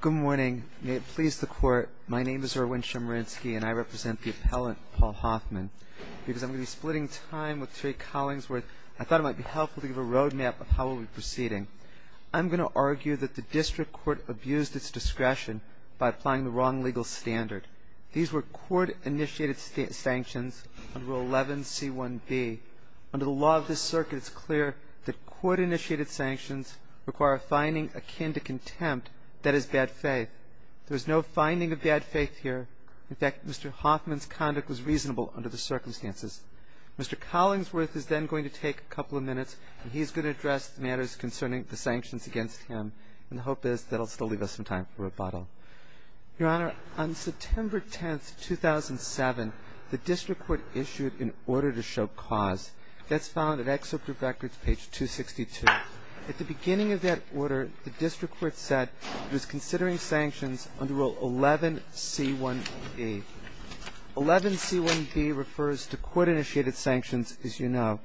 Good morning. May it please the Court, my name is Erwin Chemerinsky and I represent the appellant, Paul Hoffman. Because I'm going to be splitting time with Terry Collingsworth, I thought it might be helpful to give a roadmap of how we'll be proceeding. I'm going to argue that the District Court abused its discretion by applying the wrong legal standard. These were court-initiated sanctions under Rule 11C1B. Under the law of this circuit, it's clear that court-initiated sanctions require a finding akin to contempt. That is bad faith. There is no finding of bad faith here. In fact, Mr. Hoffman's conduct was reasonable under the circumstances. Mr. Collingsworth is then going to take a couple of minutes and he's going to address the matters concerning the sanctions against him. And the hope is that he'll still leave us some time for rebuttal. Your Honor, on September 10th, 2007, the District Court issued an order to show cause. That's found in Excerpt of Records, page 262. At the beginning of that order, the District Court said it was considering sanctions under Rule 11C1B. 11C1B refers to court-initiated sanctions, as you know.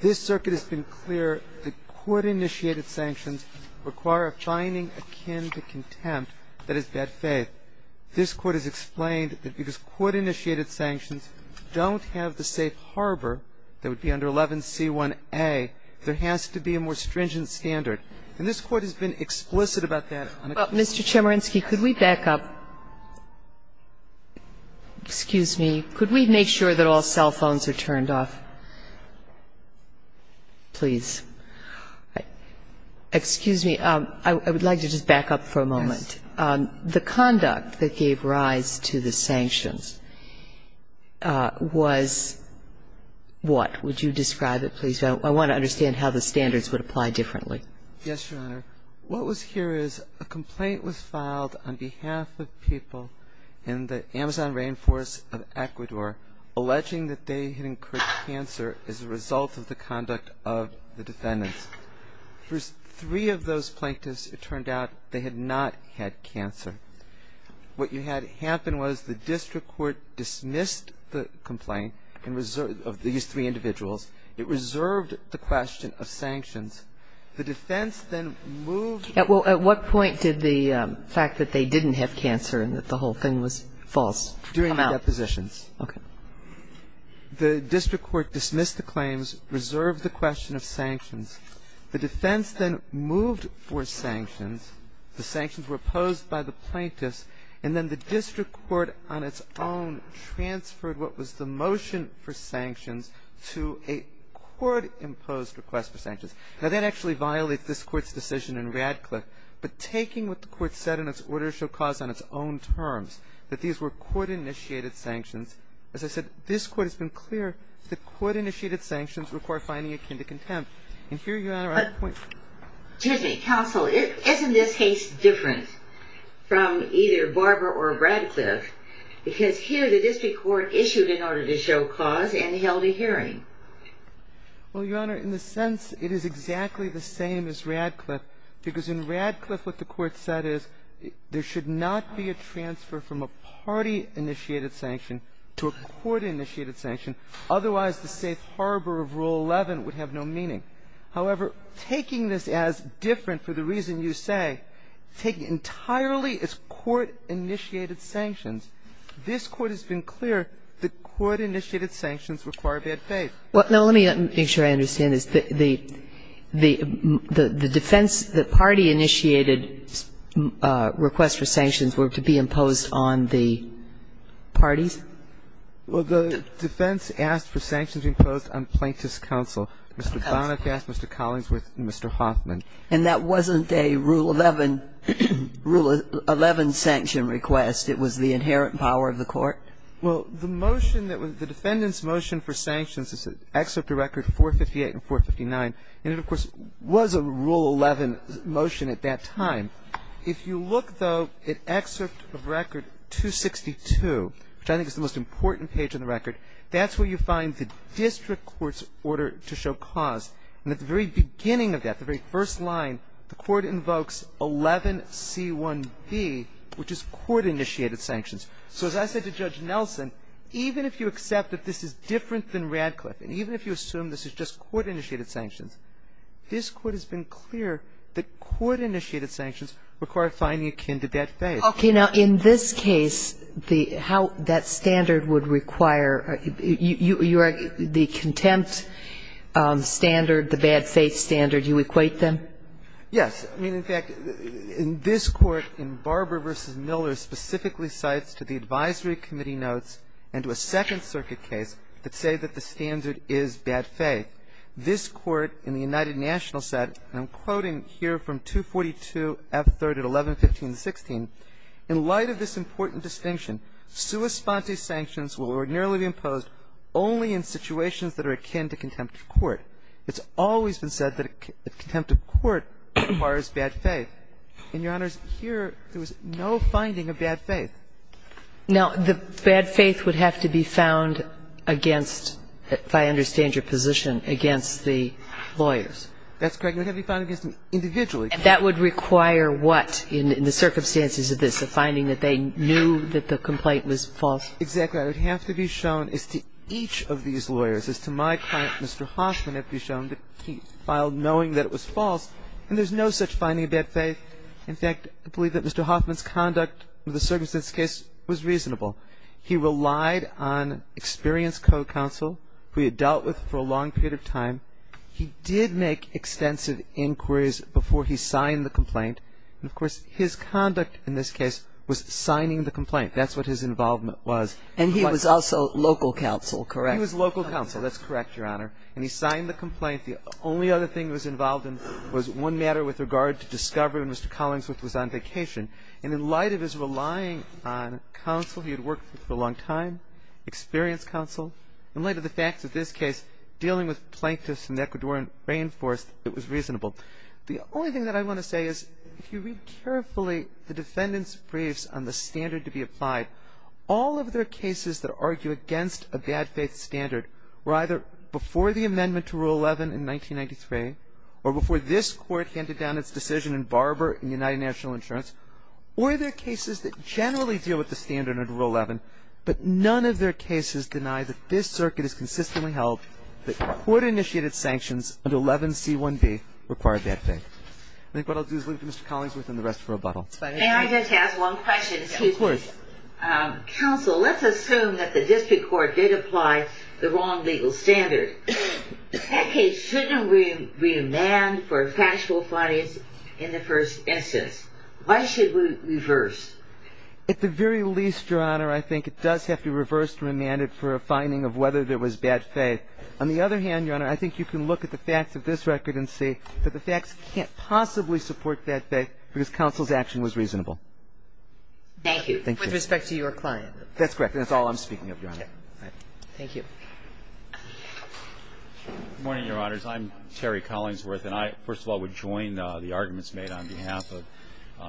This circuit has been clear that court-initiated sanctions require a finding akin to contempt. That is bad faith. This Court has explained that because court-initiated sanctions don't have the safe harbor that would be under 11C1A, there has to be a more stringent standard. And this Court has been explicit about that. Sotomayor, Mr. Chemerinsky, could we back up? Excuse me. Could we make sure that all cell phones are turned off? Please. Excuse me. I would like to just back up for a moment. Yes. The conduct that gave rise to the sanctions was what? Would you describe it, please? I want to understand how the standards would apply differently. Yes, Your Honor. What was here is a complaint was filed on behalf of people in the Amazon Rainforest of Ecuador alleging that they had incurred cancer as a result of the conduct of the defendants. For three of those plaintiffs, it turned out they had not had cancer. What had happened was the District Court dismissed the complaint of these three individuals. It reserved the question of sanctions. At what point did the fact that they didn't have cancer and that the whole thing was false come out? During the depositions. Okay. The District Court dismissed the claims, reserved the question of sanctions. The defense then moved for sanctions. The sanctions were opposed by the plaintiffs. And then the District Court on its own transferred what was the motion for sanctions to a court-imposed request for sanctions. Now, that actually violates this Court's decision in Radcliffe. But taking what the Court said in its order to show cause on its own terms, that these were court-initiated sanctions, as I said, this Court has been clear that court-initiated sanctions require finding akin to contempt. And here, Your Honor, I point to the point. Excuse me. Counsel, isn't this case different from either Barber or Radcliffe? Well, Your Honor, in the sense it is exactly the same as Radcliffe, because in Radcliffe what the Court said is there should not be a transfer from a party-initiated sanction to a court-initiated sanction. Otherwise, the safe harbor of Rule 11 would have no meaning. However, taking this as different for the reason you say, taking it entirely as court-initiated sanctions, this Court has been clear that court-initiated sanctions require bad faith. Well, no. Let me make sure I understand this. The defense, the party-initiated request for sanctions were to be imposed on the parties? Well, the defense asked for sanctions imposed on plaintiff's counsel. Mr. Bonacast, Mr. Collinsworth, and Mr. Hoffman. And that wasn't a Rule 11, Rule 11 sanction request. It was the inherent power of the Court. Well, the motion that was the defendant's motion for sanctions is to excerpt the record 458 and 459. And it, of course, was a Rule 11 motion at that time. If you look, though, at excerpt of record 262, which I think is the most important page on the record, that's where you find the district court's order to show cause. And at the very beginning of that, the very first line, the Court invokes 11C1B, which is court-initiated sanctions. So as I said to Judge Nelson, even if you accept that this is different than Radcliffe and even if you assume this is just court-initiated sanctions, this Court has been clear that court-initiated sanctions require finding akin to bad faith. Okay. Now, in this case, the how that standard would require, you are the contempt standard, the bad faith standard, you equate them? Yes. I mean, in fact, this Court in Barber v. Miller specifically cites to the advisory committee notes and to a Second Circuit case that say that the standard is bad faith. This Court in the United Nationals said, and I'm quoting here from 242F3 at 1115-16, in light of this important distinction, sui sponte sanctions will ordinarily be imposed only in situations that are akin to contempt of court. It's always been said that contempt of court requires bad faith. And, Your Honors, here there was no finding of bad faith. Now, the bad faith would have to be found against, if I understand your position, against the lawyers. That's correct. It would have to be found against them individually. And that would require what in the circumstances of this, a finding that they knew that the complaint was false? Exactly. Well, I think that it would have to be shown as to each of these lawyers, as to my client, Mr. Hoffman, it would have to be shown that he filed knowing that it was false. And there's no such finding of bad faith. In fact, I believe that Mr. Hoffman's conduct with the circumstances of this case was reasonable. He relied on experienced code counsel who he had dealt with for a long period of time. He did make extensive inquiries before he signed the complaint. And, of course, his conduct in this case was signing the complaint. That's what his involvement was. And he was also local counsel, correct? He was local counsel. That's correct, Your Honor. And he signed the complaint. The only other thing he was involved in was one matter with regard to discovery when Mr. Collingsworth was on vacation. And in light of his relying on counsel he had worked with for a long time, experienced counsel, in light of the fact that this case, dealing with plaintiffs in the Ecuadorian rainforest, it was reasonable. The only thing that I want to say is, if you read carefully the defendant's briefs on the standard to be applied, all of their cases that argue against a bad faith standard were either before the amendment to Rule 11 in 1993 or before this court handed down its decision in Barber and United National Insurance, or they're cases that generally deal with the standard under Rule 11, but none of their cases deny that this circuit is consistently held, that court-initiated sanctions under 11C1B require bad faith. I think what I'll do is leave it to Mr. Collingsworth and the rest for rebuttal. May I just ask one question? Of course. Counsel, let's assume that the district court did apply the wrong legal standard. That case shouldn't be remanded for factual findings in the first instance. Why should we reverse? At the very least, Your Honor, I think it does have to be reversed and remanded for a finding of whether there was bad faith. On the other hand, Your Honor, I think you can look at the facts of this record and see that the facts can't possibly support bad faith because counsel's action was reasonable. Thank you. With respect to your client. That's correct, and that's all I'm speaking of, Your Honor. Thank you. Good morning, Your Honors. I'm Terry Collingsworth, and I, first of all, would join the arguments made on behalf of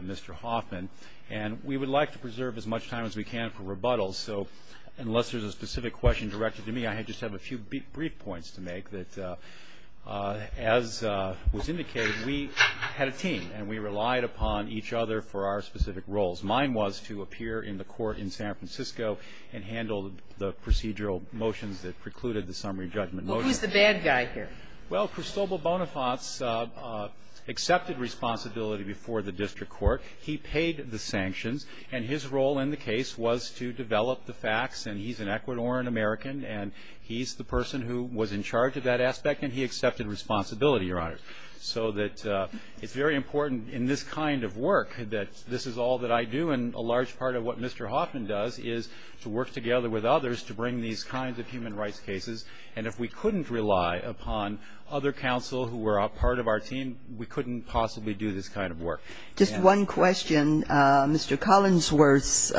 Mr. Hoffman, and we would like to preserve as much time as we can for rebuttals, so unless there's a specific question directed to me, I just have a few brief points to make that, as was indicated, we had a team and we relied upon each other for our specific roles. Mine was to appear in the court in San Francisco and handle the procedural motions that precluded the summary judgment motion. Well, who's the bad guy here? Well, Cristobal Bonifaz accepted responsibility before the district court. He paid the sanctions, and his role in the case was to develop the facts, and he's an Ecuadorian-American, and he's the person who was in charge of that aspect, and he accepted responsibility, Your Honor. So that it's very important in this kind of work that this is all that I do, and a large part of what Mr. Hoffman does is to work together with others to bring these kinds of human rights cases. And if we couldn't rely upon other counsel who were a part of our team, we couldn't possibly do this kind of work. Just one question. Mr. Collinsworth's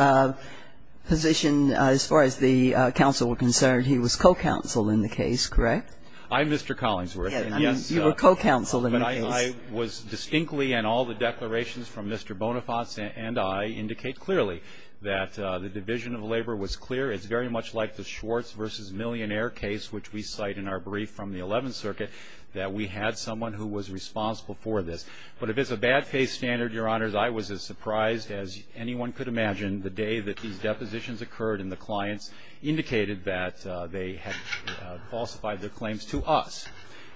position, as far as the counsel were concerned, he was co-counsel in the case, correct? I'm Mr. Collinsworth. Yes. You were co-counsel in the case. But I was distinctly, and all the declarations from Mr. Bonifaz and I indicate clearly that the division of labor was clear. It's very much like the Schwartz v. Millionaire case, which we cite in our brief from the Eleventh Circuit, that we had someone who was responsible for this. But if it's a bad faith standard, Your Honors, I was as surprised as anyone could imagine the day that these depositions occurred and the clients indicated that they had falsified their claims to us.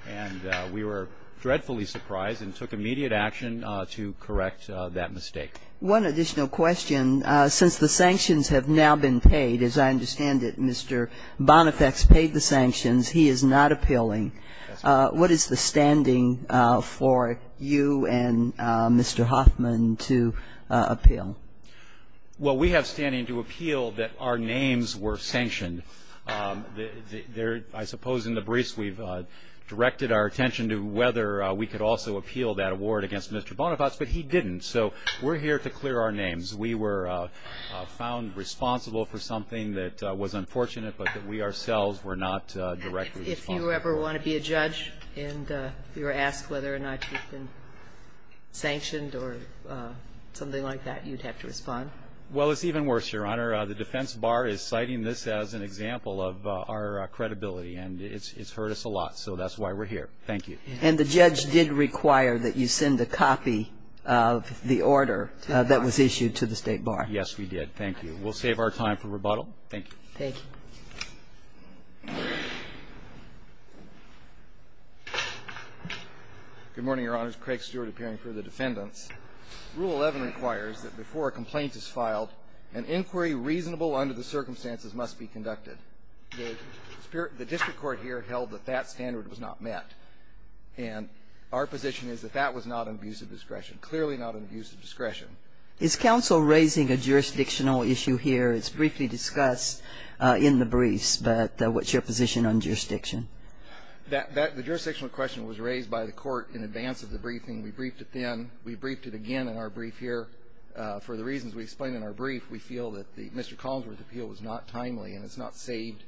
And we were dreadfully surprised and took immediate action to correct that mistake. One additional question. Since the sanctions have now been paid, as I understand it, Mr. Bonifaz paid the sanctions, he is not appealing. That's right. What is the standing for you and Mr. Hoffman to appeal? Well, we have standing to appeal that our names were sanctioned. I suppose in the briefs we've directed our attention to whether we could also appeal that award against Mr. Bonifaz, but he didn't. So we're here to clear our names. We were found responsible for something that was unfortunate, but that we ourselves were not directly responsible. If you ever want to be a judge and you're asked whether or not you've been sanctioned or something like that, you'd have to respond? Well, it's even worse, Your Honor. The defense bar is citing this as an example of our credibility, and it's hurt us a lot. So that's why we're here. Thank you. And the judge did require that you send a copy of the order that was issued to the State Bar. Yes, we did. Thank you. We'll save our time for rebuttal. Thank you. Thank you. Good morning, Your Honors. Craig Stewart appearing for the defendants. Rule 11 requires that before a complaint is filed, an inquiry reasonable under the circumstances must be conducted. The district court here held that that standard was not met. And our position is that that was not an abuse of discretion, clearly not an abuse of discretion. Is counsel raising a jurisdictional issue here? It's briefly discussed in the briefs, but what's your position on jurisdiction? The jurisdictional question was raised by the court in advance of the briefing. We briefed it then. We briefed it again in our brief here for the reasons we explained in our brief. We feel that Mr. Collinsworth's appeal was not timely and it's not saved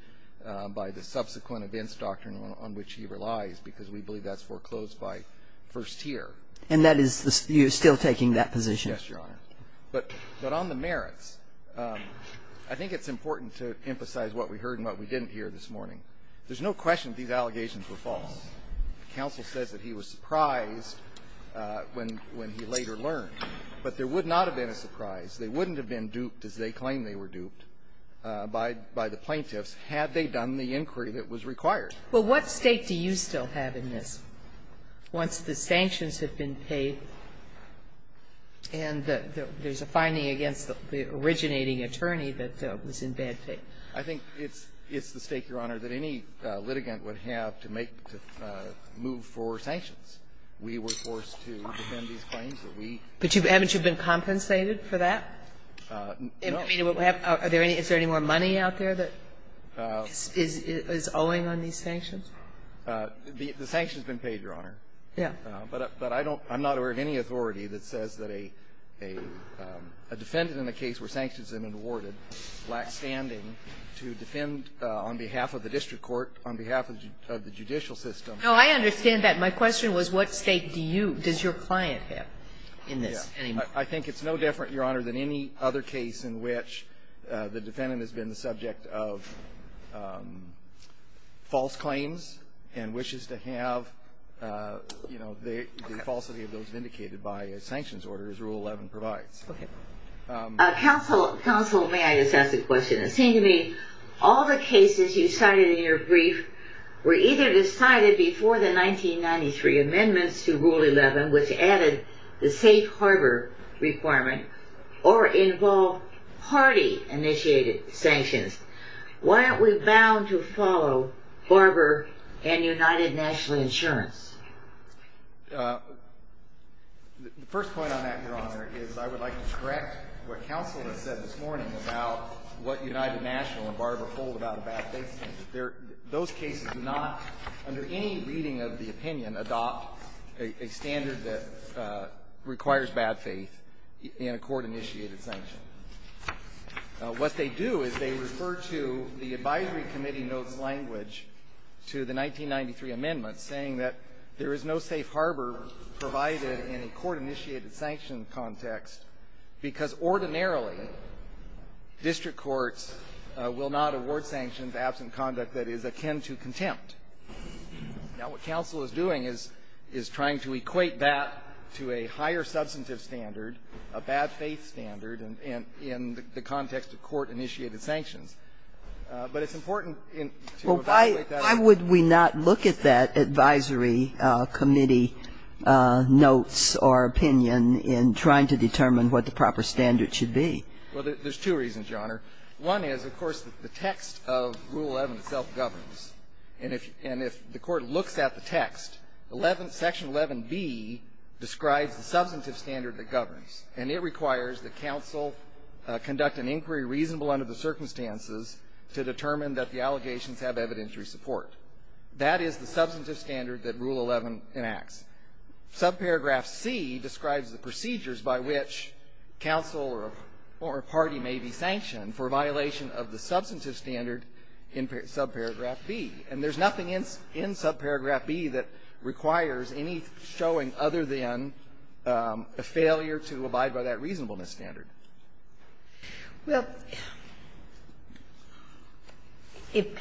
by the subsequent events doctrine on which he relies because we believe that's foreclosed by first tier. And that is you're still taking that position? Yes, Your Honor. But on the merits, I think it's important to emphasize what we heard and what we didn't hear this morning. There's no question that these allegations were false. Counsel says that he was surprised when he later learned, but there would not have been a surprise. They wouldn't have been duped as they claim they were duped by the plaintiffs had they done the inquiry that was required. Well, what stake do you still have in this once the sanctions have been paid and the there's a finding against the originating attorney that was in bad faith? I think it's the stake, Your Honor, that any litigant would have to make to move for sanctions. We were forced to defend these claims that we ---- But haven't you been compensated for that? No. I mean, is there any more money out there that is owing on these sanctions? The sanctions have been paid, Your Honor. Yeah. But I don't ---- I'm not aware of any authority that says that a defendant in a case where sanctions have been awarded lacks standing to defend on behalf of the district court, on behalf of the judicial system. No, I understand that. My question was what stake do you ---- does your client have in this? I think it's no different, Your Honor, than any other case in which the defendant has been the subject of false claims and wishes to have the falsity of those vindicated by a sanctions order, as Rule 11 provides. Okay. Counsel, may I just ask a question? It seemed to me all the cases you cited in your brief were either decided before the 1993 amendments to Rule 11, which added the safe harbor requirement, or involved party-initiated sanctions. Why aren't we bound to follow Barber and United National Insurance? The first point on that, Your Honor, is I would like to correct what counsel has said this morning about what United National and Barber hold about a bad case. Those cases do not, under any reading of the opinion, adopt a standard that requires bad faith in a court-initiated sanction. What they do is they refer to the advisory committee notes language to the 1993 amendments saying that there is no safe harbor provided in a court-initiated sanction context ordinarily district courts will not award sanctions absent conduct that is akin to contempt. Now, what counsel is doing is trying to equate that to a higher substantive standard, a bad faith standard, in the context of court-initiated sanctions. But it's important to evaluate that. So why would we not look at that advisory committee notes or opinion in trying to determine what the proper standard should be? Well, there's two reasons, Your Honor. One is, of course, the text of Rule 11 itself governs. And if the court looks at the text, Section 11b describes the substantive standard that governs. And it requires that counsel conduct an inquiry reasonable under the circumstances to determine that the allegations have evidentiary support. That is the substantive standard that Rule 11 enacts. Subparagraph c describes the procedures by which counsel or a party may be sanctioned for violation of the substantive standard in subparagraph b. And there's nothing in subparagraph b that requires any showing other than a failure to abide by that reasonableness standard. Well, if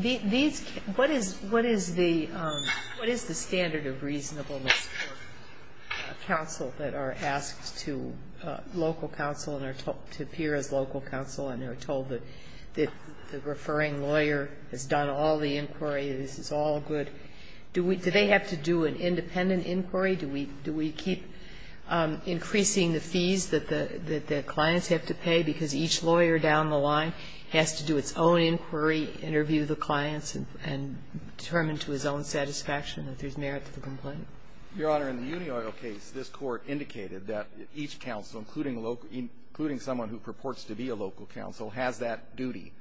these what is the standard of reasonableness for counsel that are asked to local counsel and are told to appear as local counsel and are told that the referring lawyer has done all the inquiry, this is all good, do they have to do an independent inquiry? Do we keep increasing the fees that the clients have to pay because each lawyer down the line has to do its own inquiry, interview the clients, and determine to his own satisfaction that there's merit to the complaint? Your Honor, in the UniOil case, this Court indicated that each counsel, including someone who purports to be a local counsel, has that duty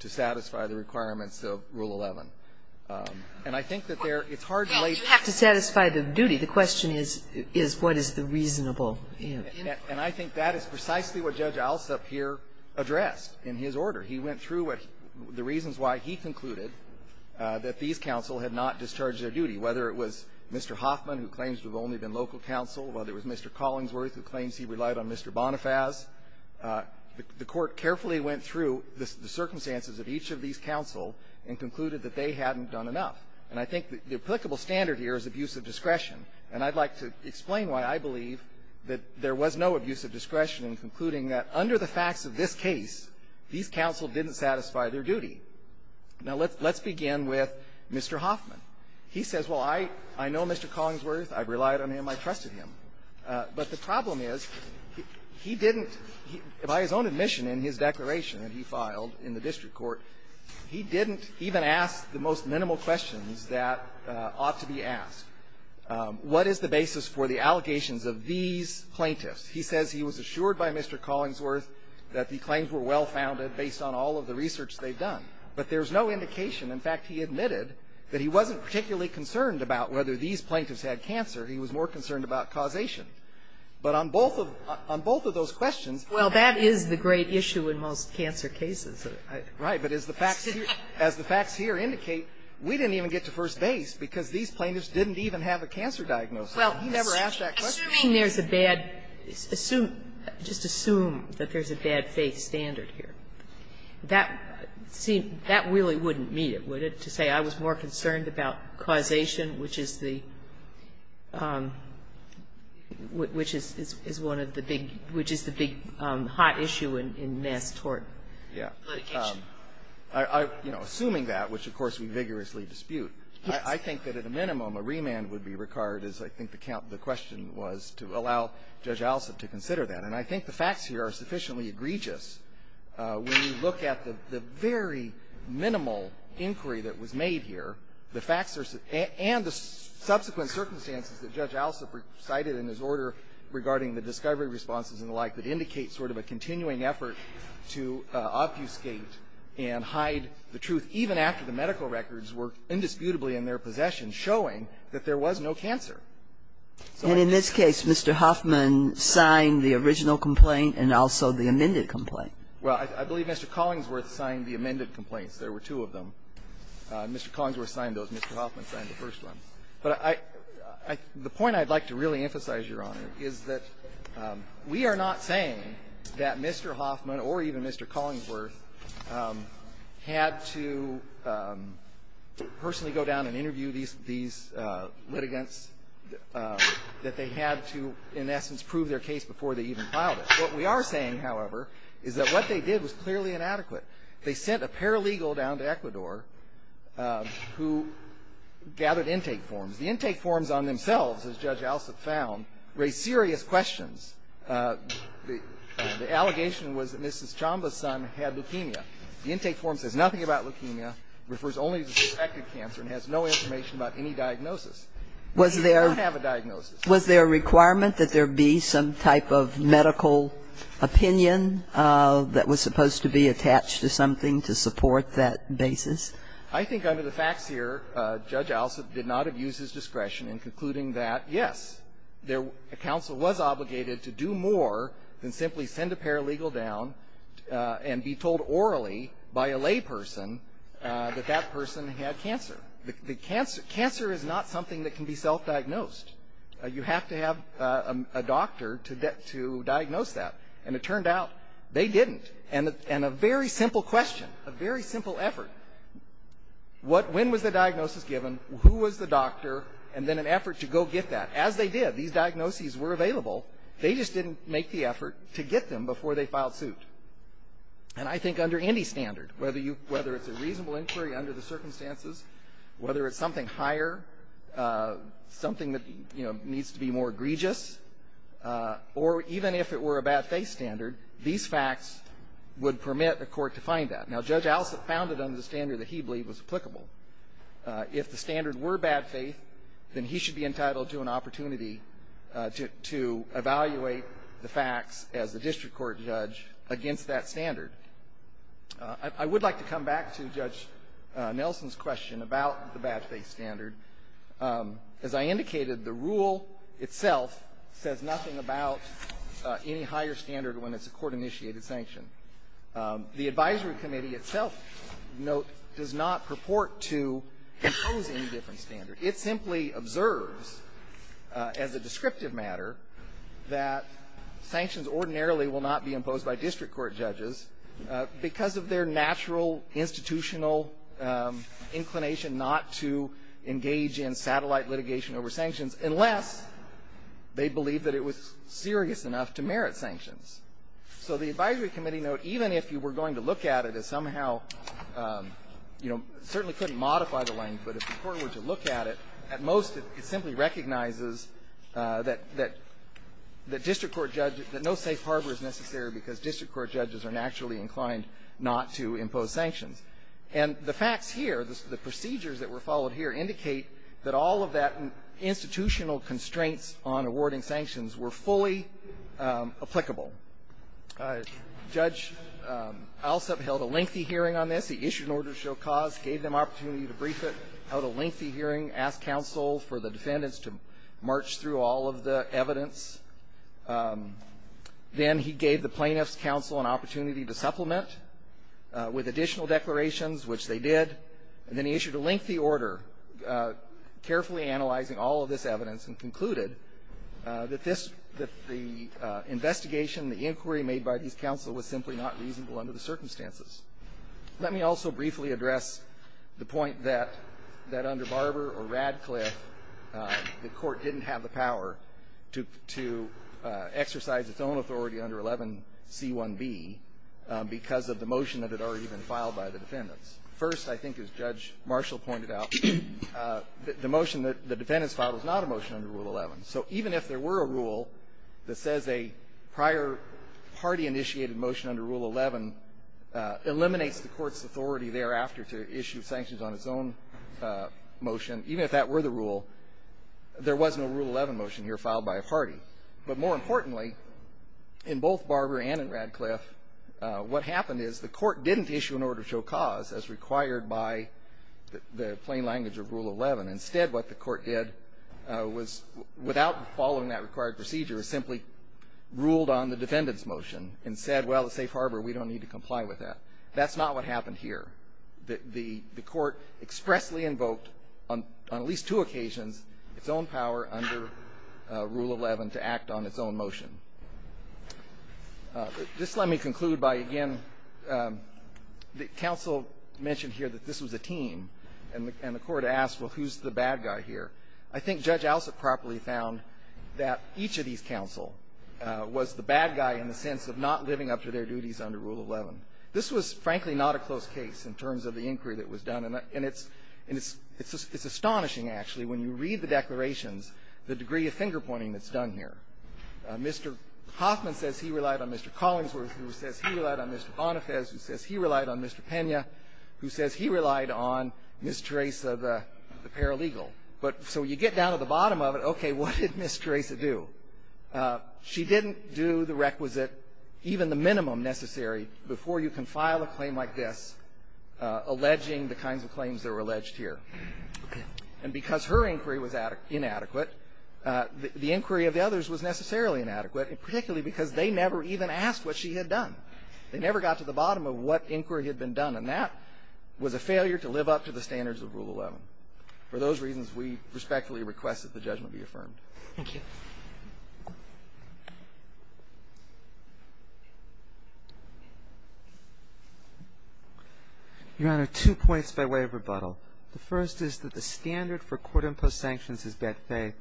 to satisfy the requirements of Rule 11. And I think that there it's hard to lay the groundwork. You have to satisfy the duty. The question is, is what is the reasonable inquiry? And I think that is precisely what Judge Alsop here addressed in his order. He went through what the reasons why he concluded that these counsel had not discharged their duty, whether it was Mr. Hoffman, who claims to have only been local counsel, whether it was Mr. Collingsworth, who claims he relied on Mr. Bonifaz. The Court carefully went through the circumstances of each of these counsel and concluded that they hadn't done enough. And I think the applicable standard here is abuse of discretion. And I'd like to explain why I believe that there was no abuse of discretion in concluding that under the facts of this case, these counsel didn't satisfy their duty. Now, let's begin with Mr. Hoffman. He says, well, I know Mr. Collingsworth. I've relied on him. I trusted him. Well, that is the great issue in most cancer cases. Right. But as the facts here indicate, we didn't even get to first base because these plaintiffs didn't even have a cancer diagnosis. He never asked that question. Assuming there's a bad – just assume that there's a bad faith standard here. That really wouldn't meet it, would it, to say I was more concerned about causation, which is the – which is one of the big – which is the big hot issue in Nass-Torten. Yeah. Assuming that, which, of course, we vigorously dispute, I think that at a minimum a remand would be required, as I think the question was, to allow Judge Alsup to consider that. And I think the facts here are sufficiently egregious. When you look at the very minimal inquiry that was made here, the facts are – and the subsequent circumstances that Judge Alsup cited in his order regarding the discovery responses and the like that indicate sort of a continuing effort to obfuscate and hide the truth, even after the medical records were indisputably in their possession, showing that there was no cancer. And in this case, Mr. Hoffman signed the original complaint and also the amended complaint. Well, I believe Mr. Collingsworth signed the amended complaints. There were two of them. Mr. Collingsworth signed those. Mr. Hoffman signed the first one. But I – the point I'd like to really emphasize, Your Honor, is that we are not saying that Mr. Hoffman or even Mr. Collingsworth had to personally go down and interview these litigants, that they had to, in essence, prove their case before they even filed it. What we are saying, however, is that what they did was clearly inadequate. They sent a paralegal down to Ecuador who gathered intake forms. The intake forms on themselves, as Judge Alsup found, raised serious questions. The allegation was that Mrs. Chamba's son had leukemia. The intake form says nothing about leukemia, refers only to suspected cancer, and has no information about any diagnosis. He did not have a diagnosis. Was there a requirement that there be some type of medical opinion that was supposed to be attached to something to support that basis? I think under the facts here, Judge Alsup did not have used his discretion in concluding that, yes, there – counsel was obligated to do more than simply send a paralegal down and be told orally by a layperson that that person had cancer. The cancer – cancer is not something that can be self-diagnosed. You have to have a doctor to diagnose that. And it turned out they didn't. And a very simple question, a very simple effort, what – when was the diagnosis given, who was the doctor, and then an effort to go get that. As they did, these diagnoses were available. They just didn't make the effort to get them before they filed suit. And I think under any standard, whether you – whether it's a reasonable inquiry under the circumstances, whether it's something higher, something that, you know, would permit a court to find that. Now, Judge Alsup found it under the standard that he believed was applicable. If the standard were bad faith, then he should be entitled to an opportunity to evaluate the facts as a district court judge against that standard. I would like to come back to Judge Nelson's question about the bad faith standard. As I indicated, the rule itself says nothing about any higher standard when it's a court-initiated sanction. The advisory committee itself, note, does not purport to impose any different standard. It simply observes, as a descriptive matter, that sanctions ordinarily will not be imposed by district court judges because of their natural institutional inclination not to engage in satellite litigation over sanctions unless they believe that it was serious enough to merit sanctions. So the advisory committee note, even if you were going to look at it as somehow, you know, certainly couldn't modify the language, but if the court were to look at it, at most it simply recognizes that district court judges – that no safe harbor is necessary because district court judges are naturally inclined not to impose sanctions. And the facts here, the procedures that were followed here, indicate that all of that institutional constraints on awarding sanctions were fully applicable. Judge Alsup held a lengthy hearing on this. He issued an order to show cause, gave them opportunity to brief it, held a lengthy hearing, asked counsel for the defendants to march through all of the evidence. Then he gave the plaintiffs' counsel an opportunity to supplement with additional declarations, which they did, and then he issued a lengthy order, carefully analyzing all of this evidence and concluded that this – that the investigation, the inquiry made by these counsel was simply not reasonable under the circumstances. Let me also briefly address the point that under Barber or Radcliffe, the court didn't have the power to exercise its own authority under 11C1B because of the motion that had already been filed by the defendants. First, I think as Judge Marshall pointed out, the motion that the defendants filed was not a motion under Rule 11. So even if there were a rule that says a prior party-initiated motion under Rule 11 eliminates the court's authority thereafter to issue sanctions on its own motion, even if that were the rule, there was no Rule 11 motion here filed by a party. But more importantly, in both Barber and in Radcliffe, what happened is the court didn't issue an order to show cause as required by the plain language of Rule 11. Instead, what the court did was, without following that required procedure, simply ruled on the defendant's motion and said, well, at Safe Harbor, we don't need to comply with that. That's not what happened here. The court expressly invoked, on at least two occasions, its own power under Rule 11 to act on its own motion. This let me conclude by, again, the counsel mentioned here that this was a team, and the court asked, well, who's the bad guy here? I think Judge Alsop properly found that each of these counsel was the bad guy in the sense of not living up to their duties under Rule 11. This was, frankly, not a close case in terms of the inquiry that was done, and it's astonishing, actually, when you read the declarations, the degree of finger-pointing that's done here. Mr. Hoffman says he relied on Mr. Collingsworth, who says he relied on Mr. Bonifaz, who says he relied on Mr. Pena, who says he relied on Ms. Teresa, the paralegal. But so you get down to the bottom of it, okay, what did Ms. Teresa do? She didn't do the requisite, even the minimum necessary, before you can file a claim like this, alleging the kinds of claims that were alleged here. And because her inquiry was inadequate, the inquiry of the others was not adequate. It was necessarily inadequate, particularly because they never even asked what she had done. They never got to the bottom of what inquiry had been done, and that was a failure to live up to the standards of Rule 11. For those reasons, we respectfully request that the judgment be affirmed. Thank you. Your Honor, two points by way of rebuttal. The first is that the standard for court-imposed sanctions is bad faith,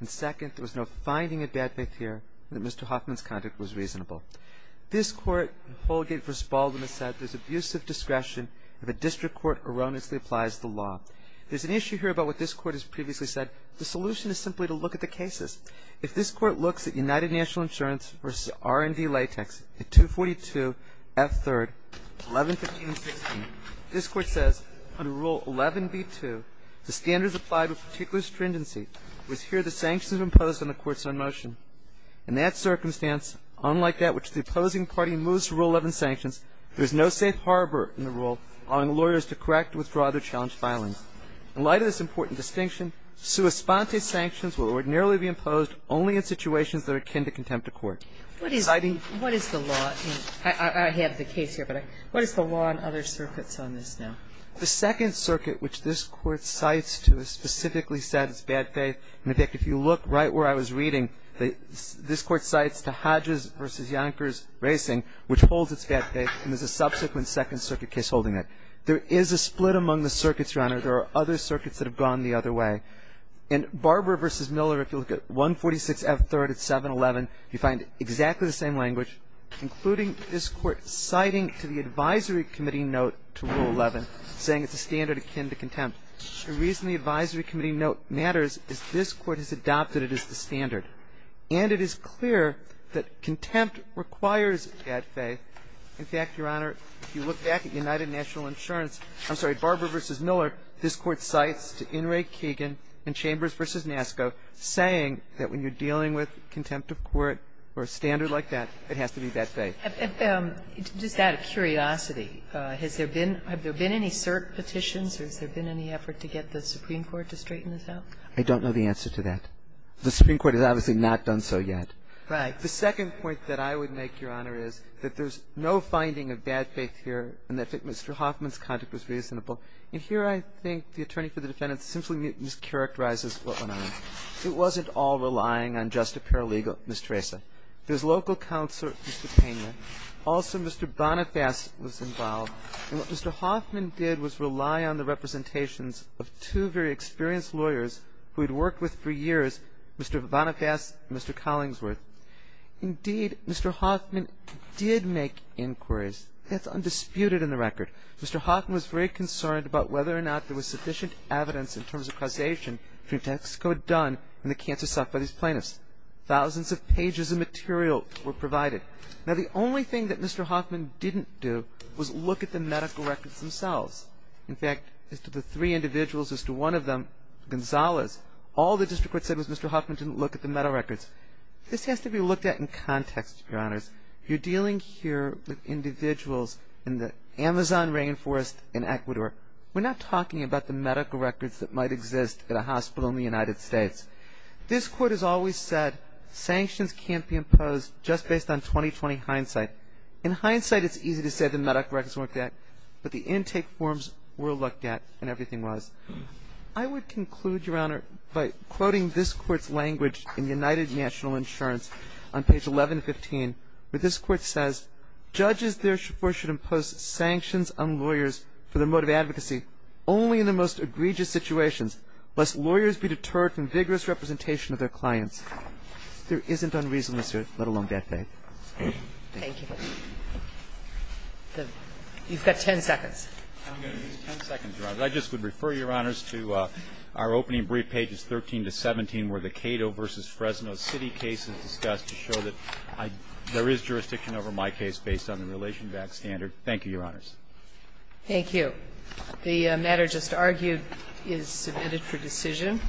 and second, that there was no finding of bad faith here, and that Mr. Hoffman's conduct was reasonable. This Court in Holgate v. Baldwin has said there's abusive discretion if a district court erroneously applies the law. There's an issue here about what this Court has previously said. The solution is simply to look at the cases. If this Court looks at United National Insurance v. R&D Latex at 242 F. 3rd, 1115 and 16, this Court says, under Rule 11b-2, the standards applied with particular stringency was here the sanctions imposed on the courts on motion. In that circumstance, unlike that which the opposing party moves to Rule 11 sanctions, there is no safe harbor in the rule allowing lawyers to correct or withdraw their challenged filings. In light of this important distinction, sua sponte sanctions will ordinarily be imposed only in situations that are akin to contempt of court. What is the law? I have the case here, but what is the law in other circuits on this now? The Second Circuit, which this Court cites to, specifically said it's bad faith. In fact, if you look right where I was reading, this Court cites to Hodges v. Yonkers Racing, which holds it's bad faith, and there's a subsequent Second Circuit case holding that. There is a split among the circuits, Your Honor. There are other circuits that have gone the other way. In Barber v. Miller, if you look at 146 F. 3rd at 711, you find exactly the same language, including this Court citing to the advisory committee note to Rule 11 saying it's a standard akin to contempt. The reason the advisory committee note matters is this Court has adopted it as the standard. And it is clear that contempt requires bad faith. In fact, Your Honor, if you look back at United National Insurance, I'm sorry, Barber v. Miller, this Court cites to Inouye-Keegan and Chambers v. Nasco saying that when you're dealing with contempt of court or a standard like that, it has to be bad faith. Just out of curiosity, has there been any cert petitions or has there been any effort to get the Supreme Court to straighten this out? I don't know the answer to that. The Supreme Court has obviously not done so yet. Right. The second point that I would make, Your Honor, is that there's no finding of bad faith here and that Mr. Hoffman's conduct was reasonable. And here I think the attorney for the defendant simply mischaracterizes what went on. It wasn't all relying on just a paralegal, Ms. Teresa. There's local counselor, Mr. Payment. Also, Mr. Boniface was involved. And what Mr. Hoffman did was rely on the representations of two very experienced lawyers who he'd worked with for years, Mr. Boniface and Mr. Collingsworth. Indeed, Mr. Hoffman did make inquiries. That's undisputed in the record. Mr. Hoffman was very concerned about whether or not there was sufficient evidence in terms of causation for what Texaco had done in the cancer by these plaintiffs. Thousands of pages of material were provided. Now, the only thing that Mr. Hoffman didn't do was look at the medical records themselves. In fact, as to the three individuals, as to one of them, Gonzales, all the district court said was Mr. Hoffman didn't look at the medical records. This has to be looked at in context, Your Honors. You're dealing here with individuals in the Amazon rainforest in Ecuador. We're not talking about the medical records that might exist at a hospital in the United States. This court has always said sanctions can't be imposed just based on 2020 hindsight. In hindsight, it's easy to say the medical records weren't there, but the intake forms were looked at and everything was. I would conclude, Your Honor, by quoting this court's language in United National Insurance on page 1115, where this court says, Judges therefore should impose sanctions on lawyers for their mode of advocacy only in the most egregious situations. Must lawyers be deterred from vigorous representation of their clients? There isn't unreasonableness here, let alone bad faith. Thank you. Thank you. You've got ten seconds. I'm going to use ten seconds, Your Honor. I just would refer, Your Honors, to our opening brief, pages 13 to 17, where the Cato v. Fresno city case is discussed to show that there is jurisdiction over my case based on the relation back standard. Thank you, Your Honors. Thank you. The matter just argued is submitted for decision.